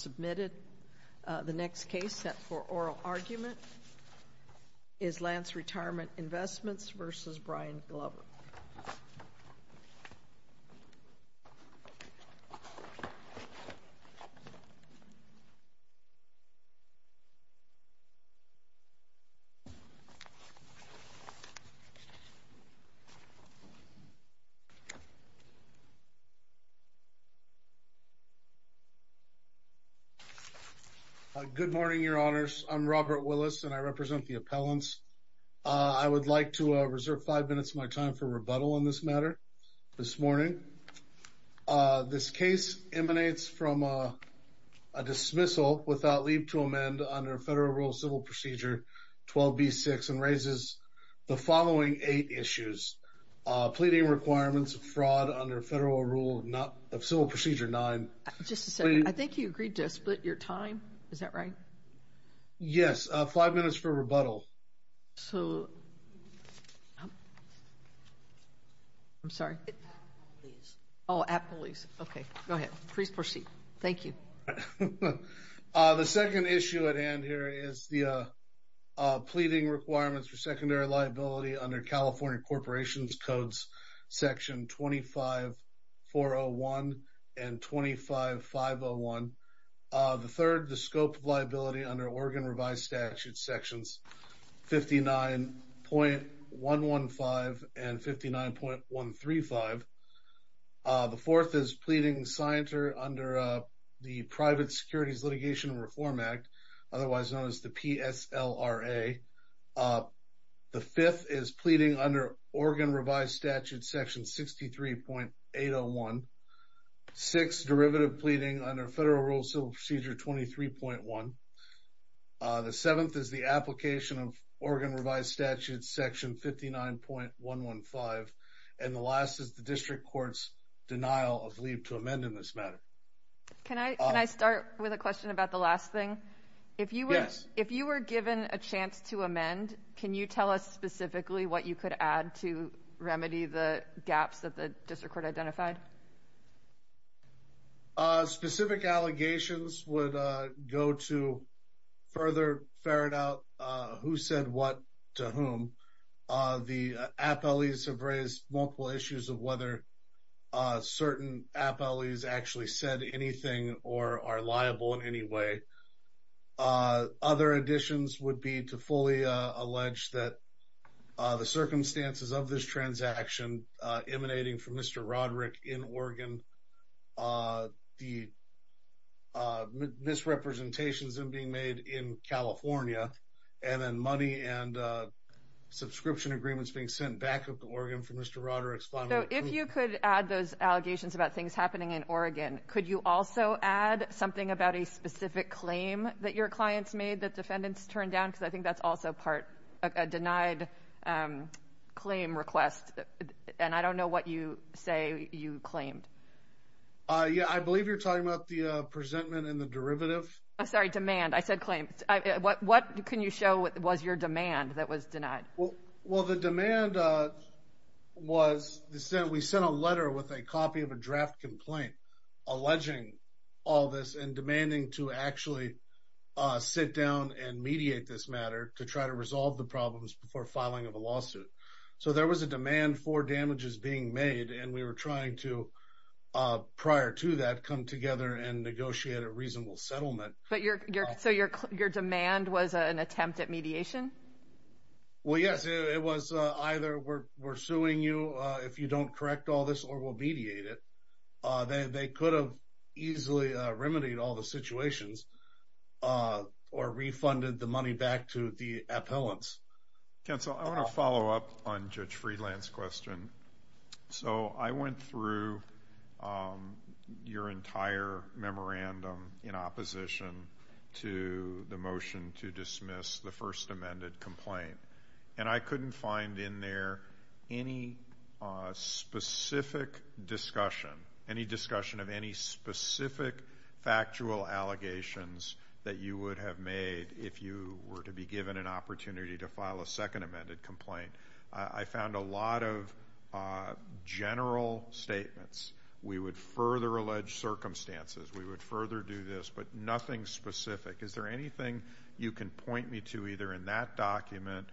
The next case set for oral argument is Lantz Retirement Investments v. Brian Glover. Good morning, Your Honors. I'm Robert Willis, and I represent the appellants. I would like to reserve five minutes of my time for rebuttal on this matter this morning. This case emanates from a dismissal without leave to amend under Federal Rule of Civil Procedure 12b-6 and raises the following eight issues. Pleading requirements of fraud under Federal Rule of Civil Procedure 9. Just a second. I think you agreed to split your time. Is that right? Yes. Five minutes for rebuttal. So, I'm sorry. Oh, at police. Okay. Go ahead. Please proceed. Thank you. The second issue at hand here is the pleading requirements for secondary liability under California Corporations Codes Section 25-401 and 25-501. The third, the scope of liability under Oregon Revised Statutes Sections 59.115 and 59.135. The fourth is pleading signatory under the Private Securities Litigation and Reform Act, otherwise known as the PSLRA. The fifth is pleading under Oregon Revised Statutes Section 63.801. Six, derivative pleading under Federal Rule of Civil Procedure 23.1. The seventh is the application of Oregon Revised Statutes Section 59.115. And the last is the District Court's denial of leave to amend in this matter. Can I start with a question about the last thing? Yes. If you were given a chance to amend, can you tell us specifically what you could add to remedy the gaps that the District Court identified? Specific allegations would go to further ferret out who said what to whom. The appellees have raised multiple issues of whether certain appellees actually said anything or are liable in any way. Other additions would be to fully allege that the circumstances of this transaction emanating from Mr. Roderick in Oregon, the misrepresentations being made in California, and then money and subscription agreements being sent back to Oregon from Mr. Roderick. So if you could add those allegations about things happening in Oregon, could you also add something about a specific claim that your clients made that defendants turned down? Because I think that's also part of a denied claim request. And I don't know what you say you claimed. Yeah, I believe you're talking about the presentment and the derivative. I'm sorry, demand. I said claim. What can you show was your demand that was denied? Well, the demand was we sent a letter with a copy of a draft complaint alleging all this and demanding to actually sit down and mediate this matter to try to resolve the problems before filing of a lawsuit. So there was a demand for damages being made. And we were trying to, prior to that, come together and negotiate a reasonable settlement. So your demand was an attempt at mediation? Well, yes, it was either we're suing you if you don't correct all this or we'll mediate it. They could have easily remedied all the situations or refunded the money back to the appellants. Counsel, I want to follow up on Judge Friedland's question. So I went through your entire memorandum in opposition to the motion to dismiss the first amended complaint. And I couldn't find in there any specific discussion, any discussion of any specific factual allegations that you would have made if you were to be given an opportunity to file a second amended complaint. I found a lot of general statements. We would further allege circumstances. We would further do this. But nothing specific. Is there anything you can point me to either in that document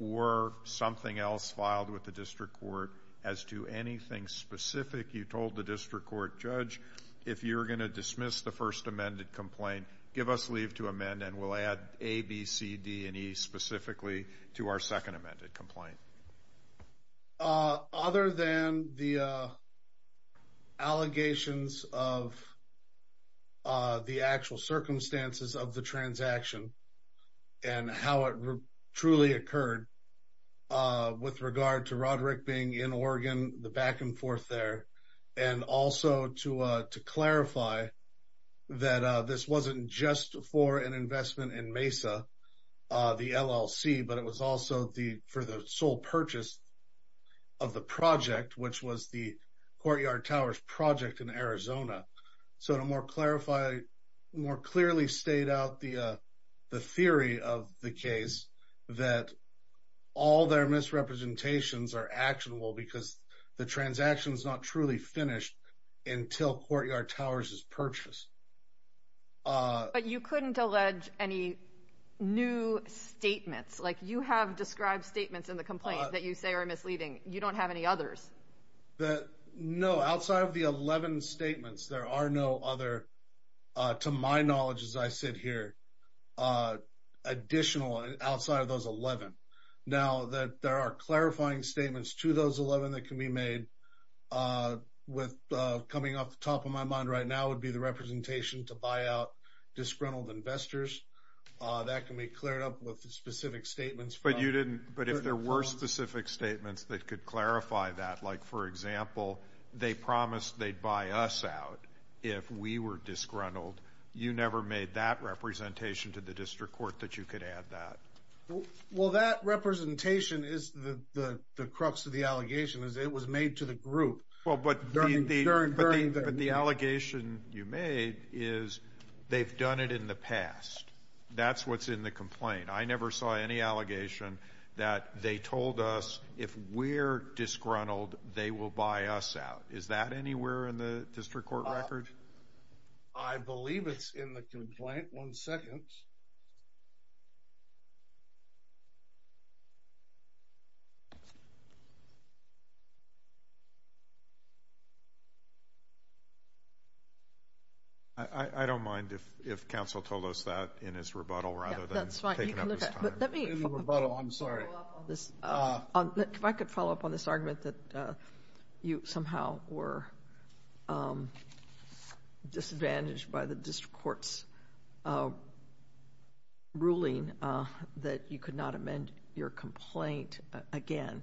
or something else filed with the district court as to anything specific you told the district court? Judge, if you're going to dismiss the first amended complaint, give us leave to amend and we'll add A, B, C, D, and E specifically to our second amended complaint. Other than the allegations of the actual circumstances of the transaction and how it truly occurred with regard to Roderick being in Oregon, the back and forth there, and also to clarify that this wasn't just for an investment in Mesa, the LLC, but it was also for the sole purchase of the project, which was the Courtyard Towers project in Arizona. So to more clarify, more clearly state out the theory of the case that all their misrepresentations are actionable because the transaction is not truly finished until Courtyard Towers is purchased. But you couldn't allege any new statements? Like you have described statements in the complaint that you say are misleading. You don't have any others? No, outside of the 11 statements, there are no other, to my knowledge as I sit here, additional outside of those 11. Now that there are clarifying statements to those 11 that can be made with coming off the top of my mind right now would be the representation to buy out disgruntled investors. That can be cleared up with specific statements. But if there were specific statements that could clarify that, like for example, they promised they'd buy us out if we were disgruntled, you never made that representation to the district court that you could add that? Well, that representation is the crux of the allegation, is it was made to the group. But the allegation you made is they've done it in the past. That's what's in the complaint. I never saw any allegation that they told us if we're disgruntled, they will buy us out. Is that anywhere in the district court record? I believe it's in the complaint. One second. I don't mind if counsel told us that in his rebuttal rather than taking up his time. If I could follow up on this argument that you somehow were disadvantaged by the district court's ruling that you could not amend your complaint again.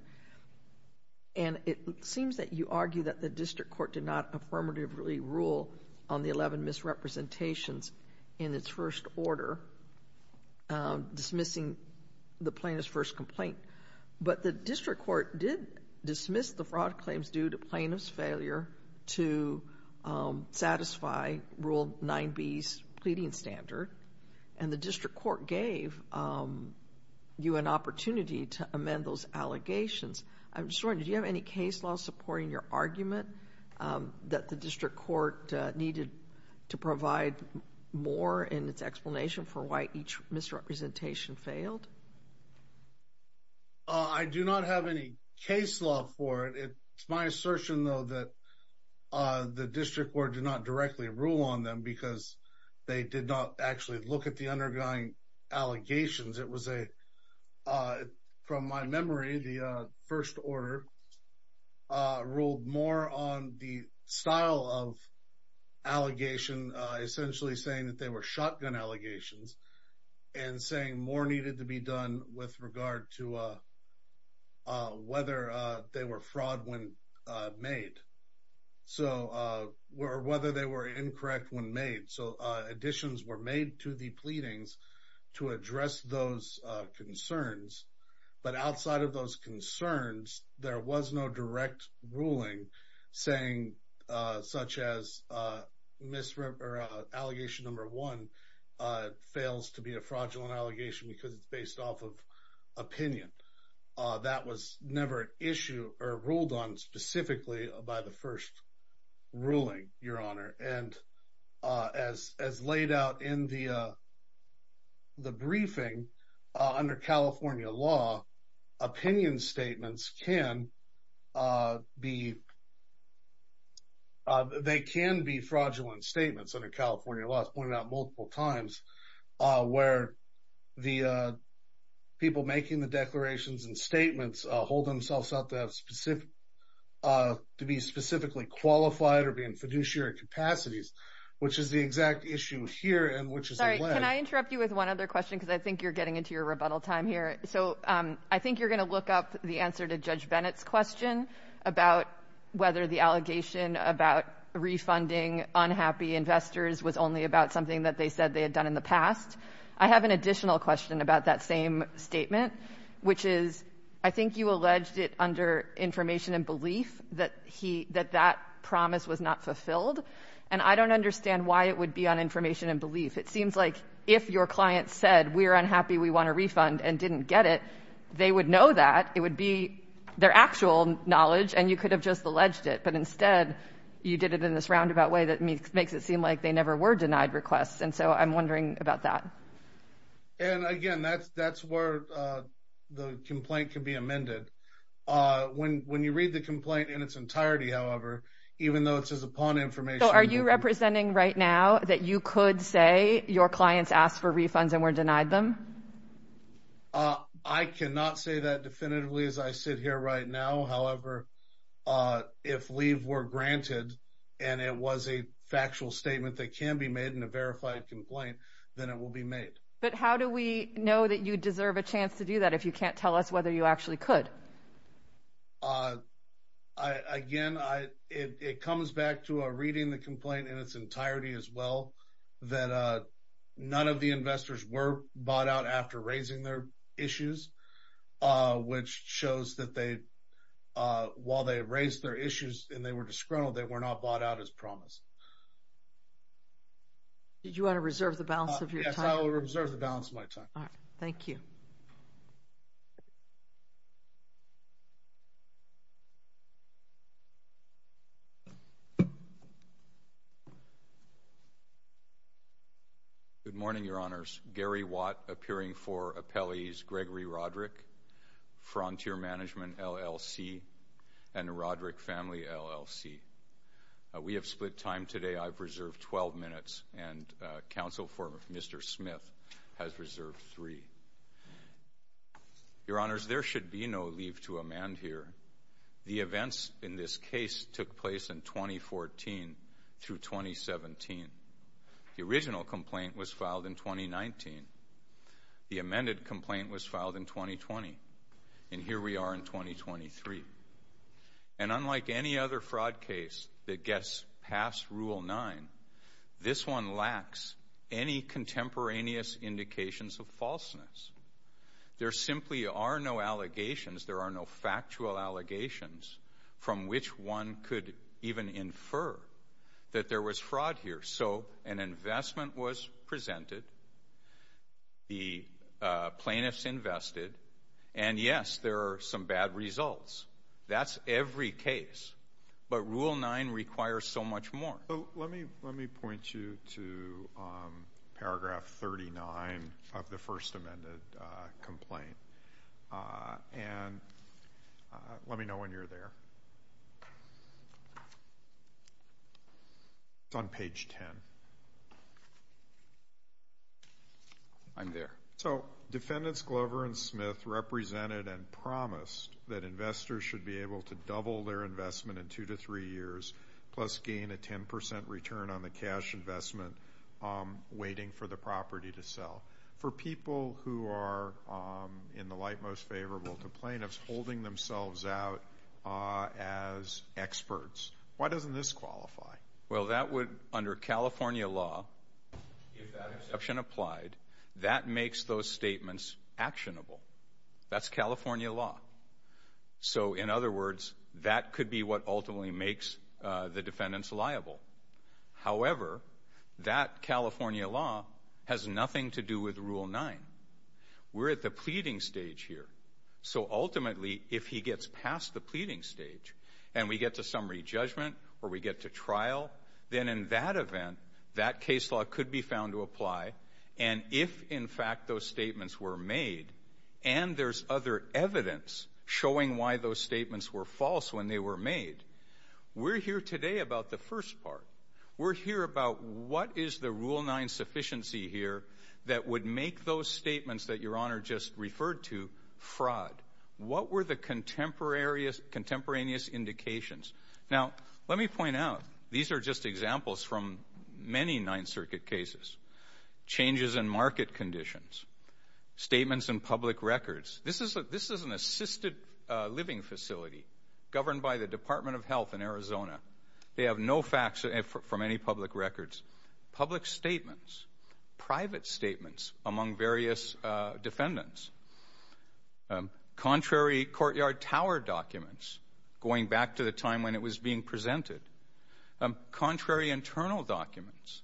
And it seems that you argue that the district court did not affirmatively rule on the 11 misrepresentations in its first order, dismissing the plaintiff's first complaint. But the district court did dismiss the fraud claims due to plaintiff's failure to satisfy Rule 9B's pleading standard. And the district court gave you an opportunity to amend those allegations. I'm just wondering, do you have any case law supporting your argument that the district court needed to provide more in its explanation for why each misrepresentation failed? I do not have any case law for it. It's my assertion, though, that the district court did not directly rule on them because they did not actually look at the undergoing allegations. From my memory, the first order ruled more on the style of allegation, essentially saying that they were shotgun allegations and saying more needed to be done with regard to whether they were fraud when made or whether they were incorrect when made. So additions were made to the pleadings to address those concerns. But outside of those concerns, there was no direct ruling saying such as allegation number one fails to be a fraudulent allegation because it's based off of opinion. That was never issued or ruled on specifically by the first ruling, Your Honor. And as laid out in the briefing under California law, opinion statements can be fraudulent statements under California law. I've pointed out multiple times where the people making the declarations and statements hold themselves up to have specific to be specifically qualified or be in fiduciary capacities, which is the exact issue here. And which is why I interrupt you with one other question because I think you're getting into your rebuttal time here. So I think you're going to look up the answer to Judge Bennett's question about whether the allegation about refunding unhappy investors was only about something that they said they had done in the past. I have an additional question about that same statement, which is I think you alleged it under information and belief that he that that promise was not fulfilled. And I don't understand why it would be on information and belief. It seems like if your client said we're unhappy, we want a refund and didn't get it, they would know that it would be their actual knowledge and you could have just alleged it. But instead, you did it in this roundabout way that makes it seem like they never were denied requests. And so I'm wondering about that. And again, that's that's where the complaint can be amended. When when you read the complaint in its entirety, however, even though it says upon information, are you representing right now that you could say your clients asked for refunds and were denied them? I cannot say that definitively as I sit here right now. However, if leave were granted and it was a factual statement that can be made in a verified complaint, then it will be made. But how do we know that you deserve a chance to do that if you can't tell us whether you actually could? Again, I it comes back to a reading the complaint in its entirety as well, that none of the investors were bought out after raising their issues, which shows that they while they raise their issues and they were disgruntled, they were not bought out as promised. Did you want to reserve the balance of your time? I will reserve the balance of my time. All right. Thank you. Good morning, Your Honors. Gary Watt, appearing for appellees Gregory Roderick, Frontier Management LLC and Roderick Family LLC. We have split time today. I've reserved 12 minutes and counsel for Mr. Smith has reserved three. Your Honors, there should be no leave to amend here. The events in this case took place in 2014 through 2017. The original complaint was filed in 2019. The amended complaint was filed in 2020. And here we are in 2023. And unlike any other fraud case that gets past Rule 9, this one lacks any contemporaneous indications of falseness. There simply are no allegations. There are no factual allegations from which one could even infer that there was fraud here. So an investment was presented. The plaintiffs invested. And, yes, there are some bad results. That's every case. But Rule 9 requires so much more. Let me point you to paragraph 39 of the first amended complaint. And let me know when you're there. It's on page 10. I'm there. So Defendants Glover and Smith represented and promised that investors should be able to double their investment in two to three years, plus gain a 10 percent return on the cash investment waiting for the property to sell. For people who are in the light most favorable to plaintiffs holding themselves out as experts, why doesn't this qualify? Well, that would, under California law, if that exception applied, that makes those statements actionable. That's California law. So, in other words, that could be what ultimately makes the defendants liable. However, that California law has nothing to do with Rule 9. We're at the pleading stage here. So, ultimately, if he gets past the pleading stage and we get to summary judgment or we get to trial, then in that event, that case law could be found to apply. And if, in fact, those statements were made, and there's other evidence showing why those statements were false when they were made, we're here today about the first part. We're here about what is the Rule 9 sufficiency here that would make those statements that Your Honor just referred to fraud? What were the contemporaneous indications? Now, let me point out, these are just examples from many Ninth Circuit cases. Changes in market conditions, statements in public records. This is an assisted living facility governed by the Department of Health in Arizona. They have no facts from any public records. Public statements, private statements among various defendants, contrary courtyard tower documents going back to the time when it was being presented, contrary internal documents.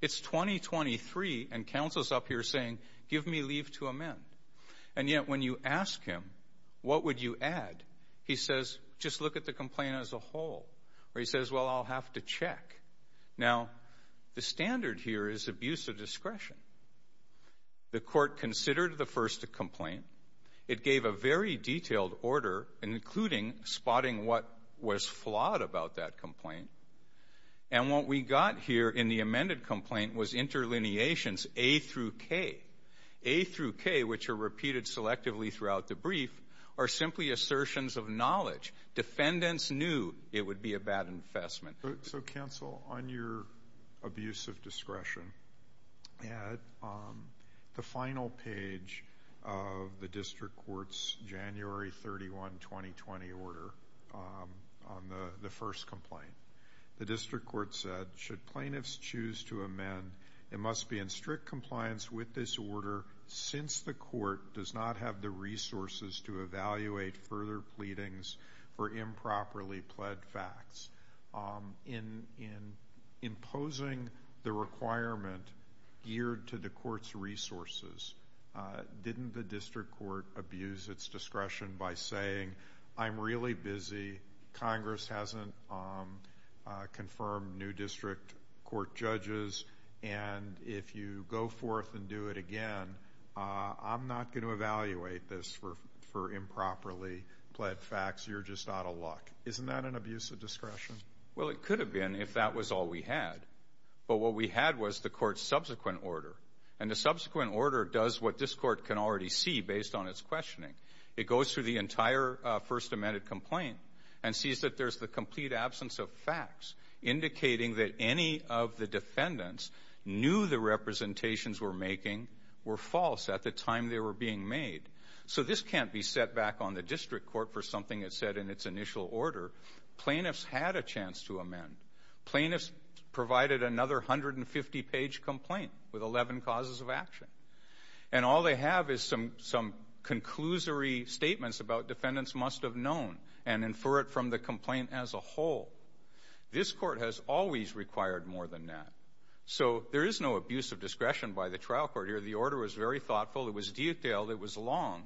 It's 2023 and counsel's up here saying, give me leave to amend. And yet, when you ask him, what would you add? He says, just look at the complaint as a whole. Or he says, well, I'll have to check. Now, the standard here is abuse of discretion. The court considered the first complaint. It gave a very detailed order, including spotting what was flawed about that complaint. And what we got here in the amended complaint was interlineations A through K. A through K, which are repeated selectively throughout the brief, are simply assertions of knowledge. Defendants knew it would be a bad infestment. So, counsel, on your abuse of discretion, add the final page of the district court's January 31, 2020, order on the first complaint. The district court said, should plaintiffs choose to amend, it must be in strict compliance with this order since the court does not have the resources to evaluate further pleadings for improperly pled facts. In imposing the requirement geared to the court's resources, didn't the district court abuse its discretion by saying, I'm really busy, Congress hasn't confirmed new district court judges, and if you go forth and do it again, I'm not going to evaluate this for improperly pled facts. You're just out of luck. Isn't that an abuse of discretion? Well, it could have been if that was all we had. But what we had was the court's subsequent order. And the subsequent order does what this court can already see based on its questioning. It goes through the entire first amended complaint and sees that there's the complete absence of facts indicating that any of the defendants knew the representations were making were false at the time they were being made. So this can't be set back on the district court for something it said in its initial order. Plaintiffs had a chance to amend. Plaintiffs provided another 150-page complaint with 11 causes of action. And all they have is some conclusory statements about defendants must have known and infer it from the complaint as a whole. This court has always required more than that. So there is no abuse of discretion by the trial court here. The order was very thoughtful. It was detailed. It was long.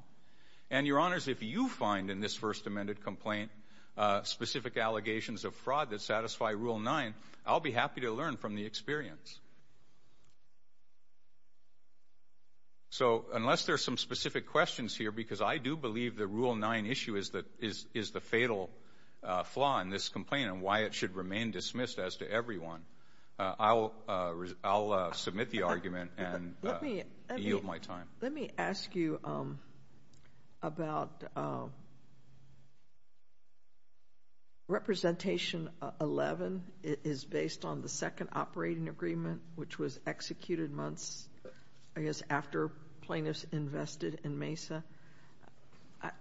And, Your Honors, if you find in this first amended complaint specific allegations of fraud that satisfy Rule 9, I'll be happy to learn from the experience. So unless there are some specific questions here, because I do believe the Rule 9 issue is the fatal flaw in this complaint and why it should remain dismissed as to everyone, I'll submit the argument and yield my time. Let me ask you about Representation 11. It is based on the second operating agreement, which was executed months, I guess, after plaintiffs invested in Mesa.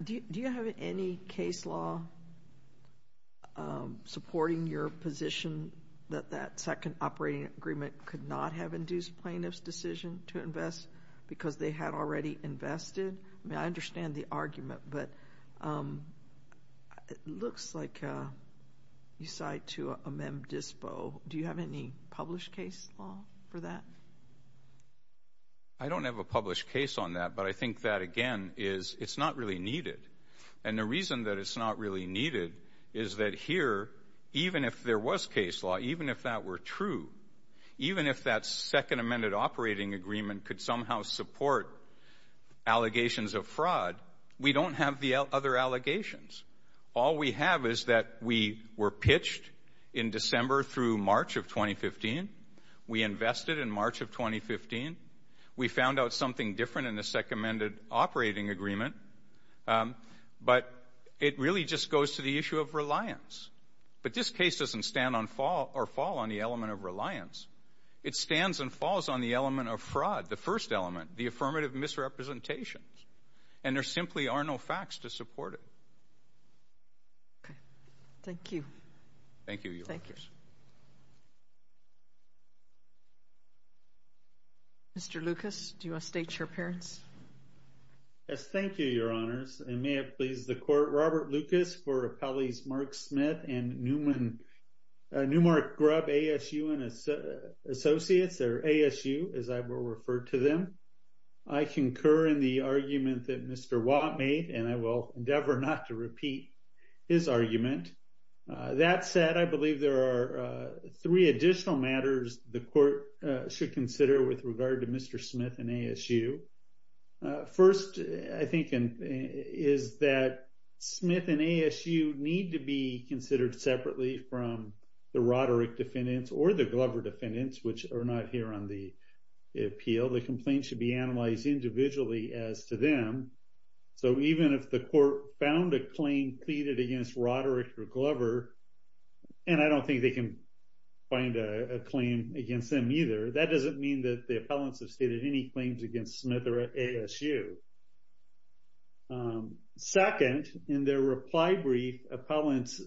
Do you have any case law supporting your position that that second operating agreement could not have induced plaintiffs' decision to invest because they had already invested? I mean, I understand the argument, but it looks like you cite to Amend Dispo. Do you have any published case law for that? I don't have a published case on that. But I think that, again, is it's not really needed. And the reason that it's not really needed is that here, even if there was case law, even if that were true, even if that second amended operating agreement could somehow support allegations of fraud, we don't have the other allegations. All we have is that we were pitched in December through March of 2015. We invested in March of 2015. We found out something different in the second amended operating agreement. But it really just goes to the issue of reliance. But this case doesn't stand on fall or fall on the element of reliance. It stands and falls on the element of fraud, the first element, the affirmative misrepresentation. And there simply are no facts to support it. Okay. Thank you. Thank you, Your Honors. Thank you. Mr. Lucas, do you want to state your appearance? Yes, thank you, Your Honors. And may it please the Court, Robert Lucas for Appellees Mark Smith and Newmark Grubb, ASU and Associates, or ASU as I will refer to them. I concur in the argument that Mr. Watt made, and I will endeavor not to repeat his argument. That said, I believe there are three additional matters the Court should consider with regard to Mr. Smith and ASU. First, I think, is that Smith and ASU need to be considered separately from the Roderick defendants or the Glover defendants, which are not here on the appeal. The complaint should be analyzed individually as to them. So even if the Court found a claim pleaded against Roderick or Glover, and I don't think they can find a claim against them either, that doesn't mean that the appellants have stated any claims against Smith or ASU. Second, in their reply brief, appellants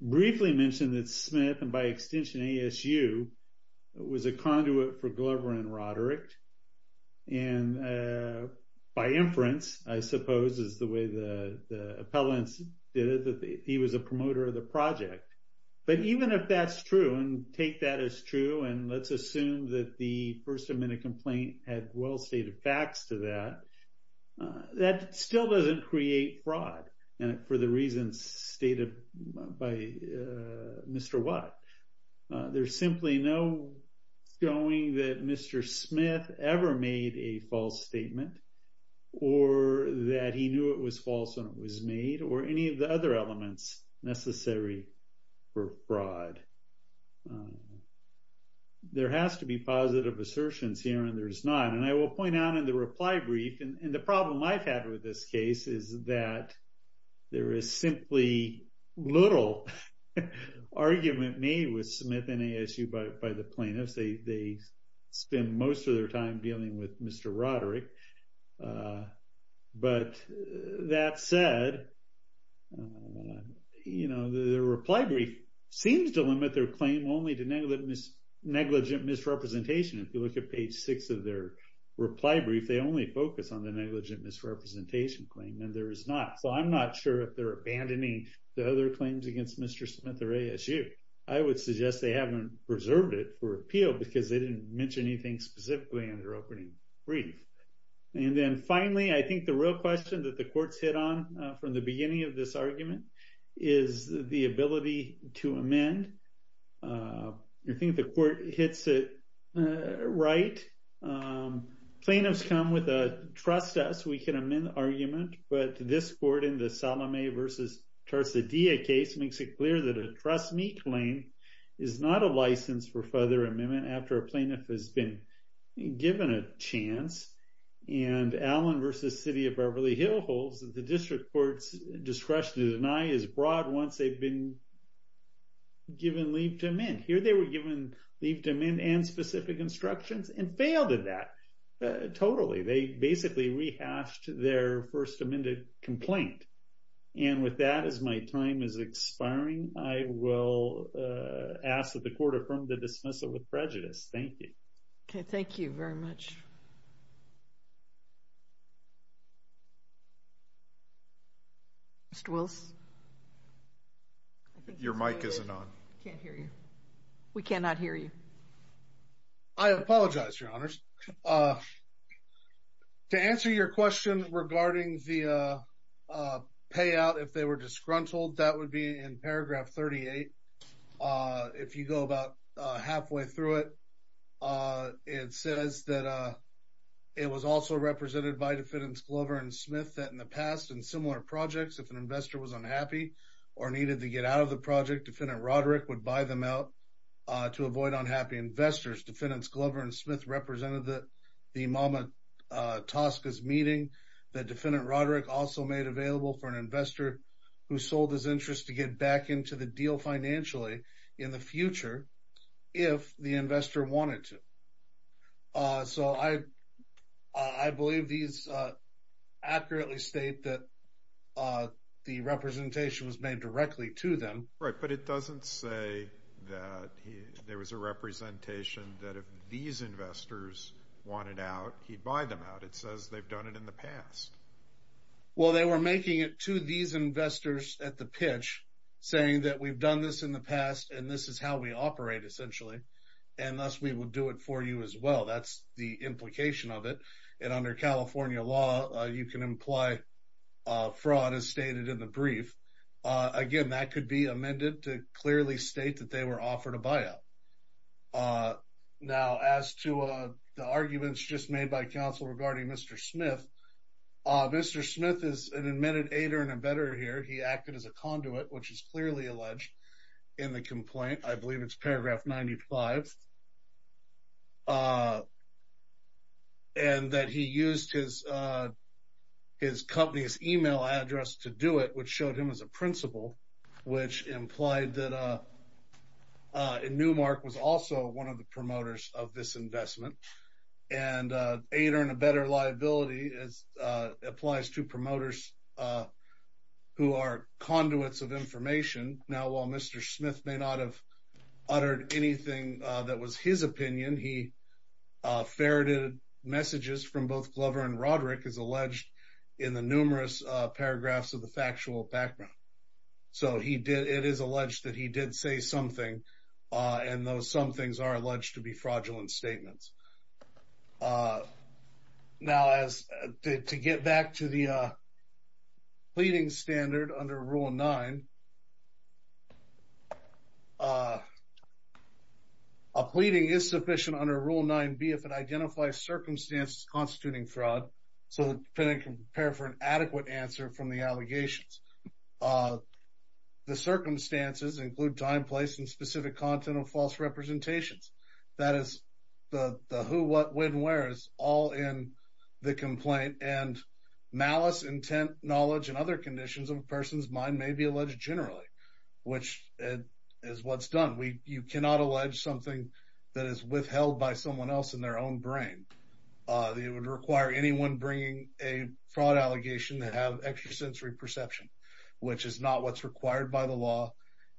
briefly mentioned that Smith and by extension ASU was a conduit for Glover and Roderick. And by inference, I suppose, is the way the appellants did it, that he was a promoter of the project. But even if that's true, and take that as true, and let's assume that the first amendment complaint had well stated facts to that, that still doesn't create fraud for the reasons stated by Mr. Watt. There's simply no going that Mr. Smith ever made a false statement, or that he knew it was false when it was made, or any of the other elements necessary for fraud. There has to be positive assertions here, and there's none. And I will point out in the reply brief, and the problem I've had with this case, is that there is simply little argument made with Smith and ASU by the plaintiffs. They spend most of their time dealing with Mr. Roderick. But that said, the reply brief seems to limit their claim only to negligent misrepresentation. If you look at page six of their reply brief, they only focus on the negligent misrepresentation claim, and there is not. So I'm not sure if they're abandoning the other claims against Mr. Smith or ASU. I would suggest they haven't preserved it for appeal, because they didn't mention anything specifically in their opening brief. And then finally, I think the real question that the courts hit on from the beginning of this argument is the ability to amend. I think the court hits it right. Plaintiffs come with a trust us, we can amend argument, but this court in the Salome v. Tarsadilla case makes it clear that a trust me claim is not a license for further amendment after a plaintiff has been given a chance. And Allen v. City of Beverly Hills holds that the district court's discretion to deny is broad once they've been given leave to amend. Here they were given leave to amend and specific instructions, and failed at that totally. They basically rehashed their first amended complaint. And with that, as my time is expiring, I will ask that the court affirm the dismissal with prejudice. Thank you. Okay, thank you very much. Mr. Wills? Your mic isn't on. I can't hear you. We cannot hear you. I apologize, Your Honors. To answer your question regarding the payout if they were disgruntled, that would be in paragraph 38. If you go about halfway through it, it says that it was also represented by Defendants Glover and Smith that in the past in similar projects, if an investor was unhappy or needed to get out of the project, Defendant Roderick would buy them out to avoid unhappy investors. Defendants Glover and Smith represented the Mama Tosca's meeting. The Defendant Roderick also made available for an investor who sold his interest to get back into the deal financially in the future if the investor wanted to. So I believe these accurately state that the representation was made directly to them. Right, but it doesn't say that there was a representation that if these investors wanted out, he'd buy them out. It says they've done it in the past. Well, they were making it to these investors at the pitch, saying that we've done this in the past and this is how we operate essentially, and thus we will do it for you as well. That's the implication of it. And under California law, you can imply fraud as stated in the brief. Again, that could be amended to clearly state that they were offered a buyout. Now, as to the arguments just made by counsel regarding Mr. Smith, Mr. Smith is an admitted aider and embedder here. He acted as a conduit, which is clearly alleged in the complaint. I believe it's paragraph 95. And that he used his company's email address to do it, which showed him as a principal, which implied that Newmark was also one of the promoters of this investment. And aider and embedder liability applies to promoters who are conduits of information. Now, while Mr. Smith may not have uttered anything that was his opinion, he ferreted messages from both Glover and Roderick, as alleged in the numerous paragraphs of the factual background. So it is alleged that he did say something, and those somethings are alleged to be fraudulent statements. Now, to get back to the pleading standard under Rule 9, a pleading is sufficient under Rule 9B if it identifies circumstances constituting fraud, so the defendant can prepare for an adequate answer from the allegations. The circumstances include time, place, and specific content of false representations. That is the who, what, when, where is all in the complaint. And malice, intent, knowledge, and other conditions of a person's mind may be alleged generally, which is what's done. You cannot allege something that is withheld by someone else in their own brain. It would require anyone bringing a fraud allegation to have extrasensory perception, which is not what's required by the law.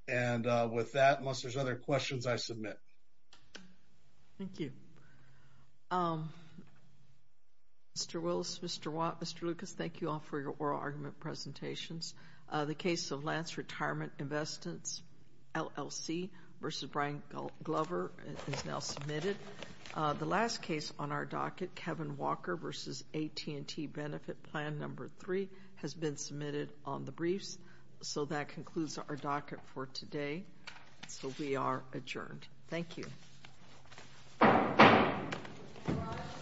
And with that, unless there's other questions, I submit. Thank you. Mr. Wills, Mr. Watt, Mr. Lucas, thank you all for your oral argument presentations. The case of Lance Retirement Investments LLC v. Brian Glover is now submitted. The last case on our docket, Kevin Walker v. AT&T Benefit Plan No. 3, has been submitted on the briefs. So that concludes our docket for today. So we are adjourned. Thank you.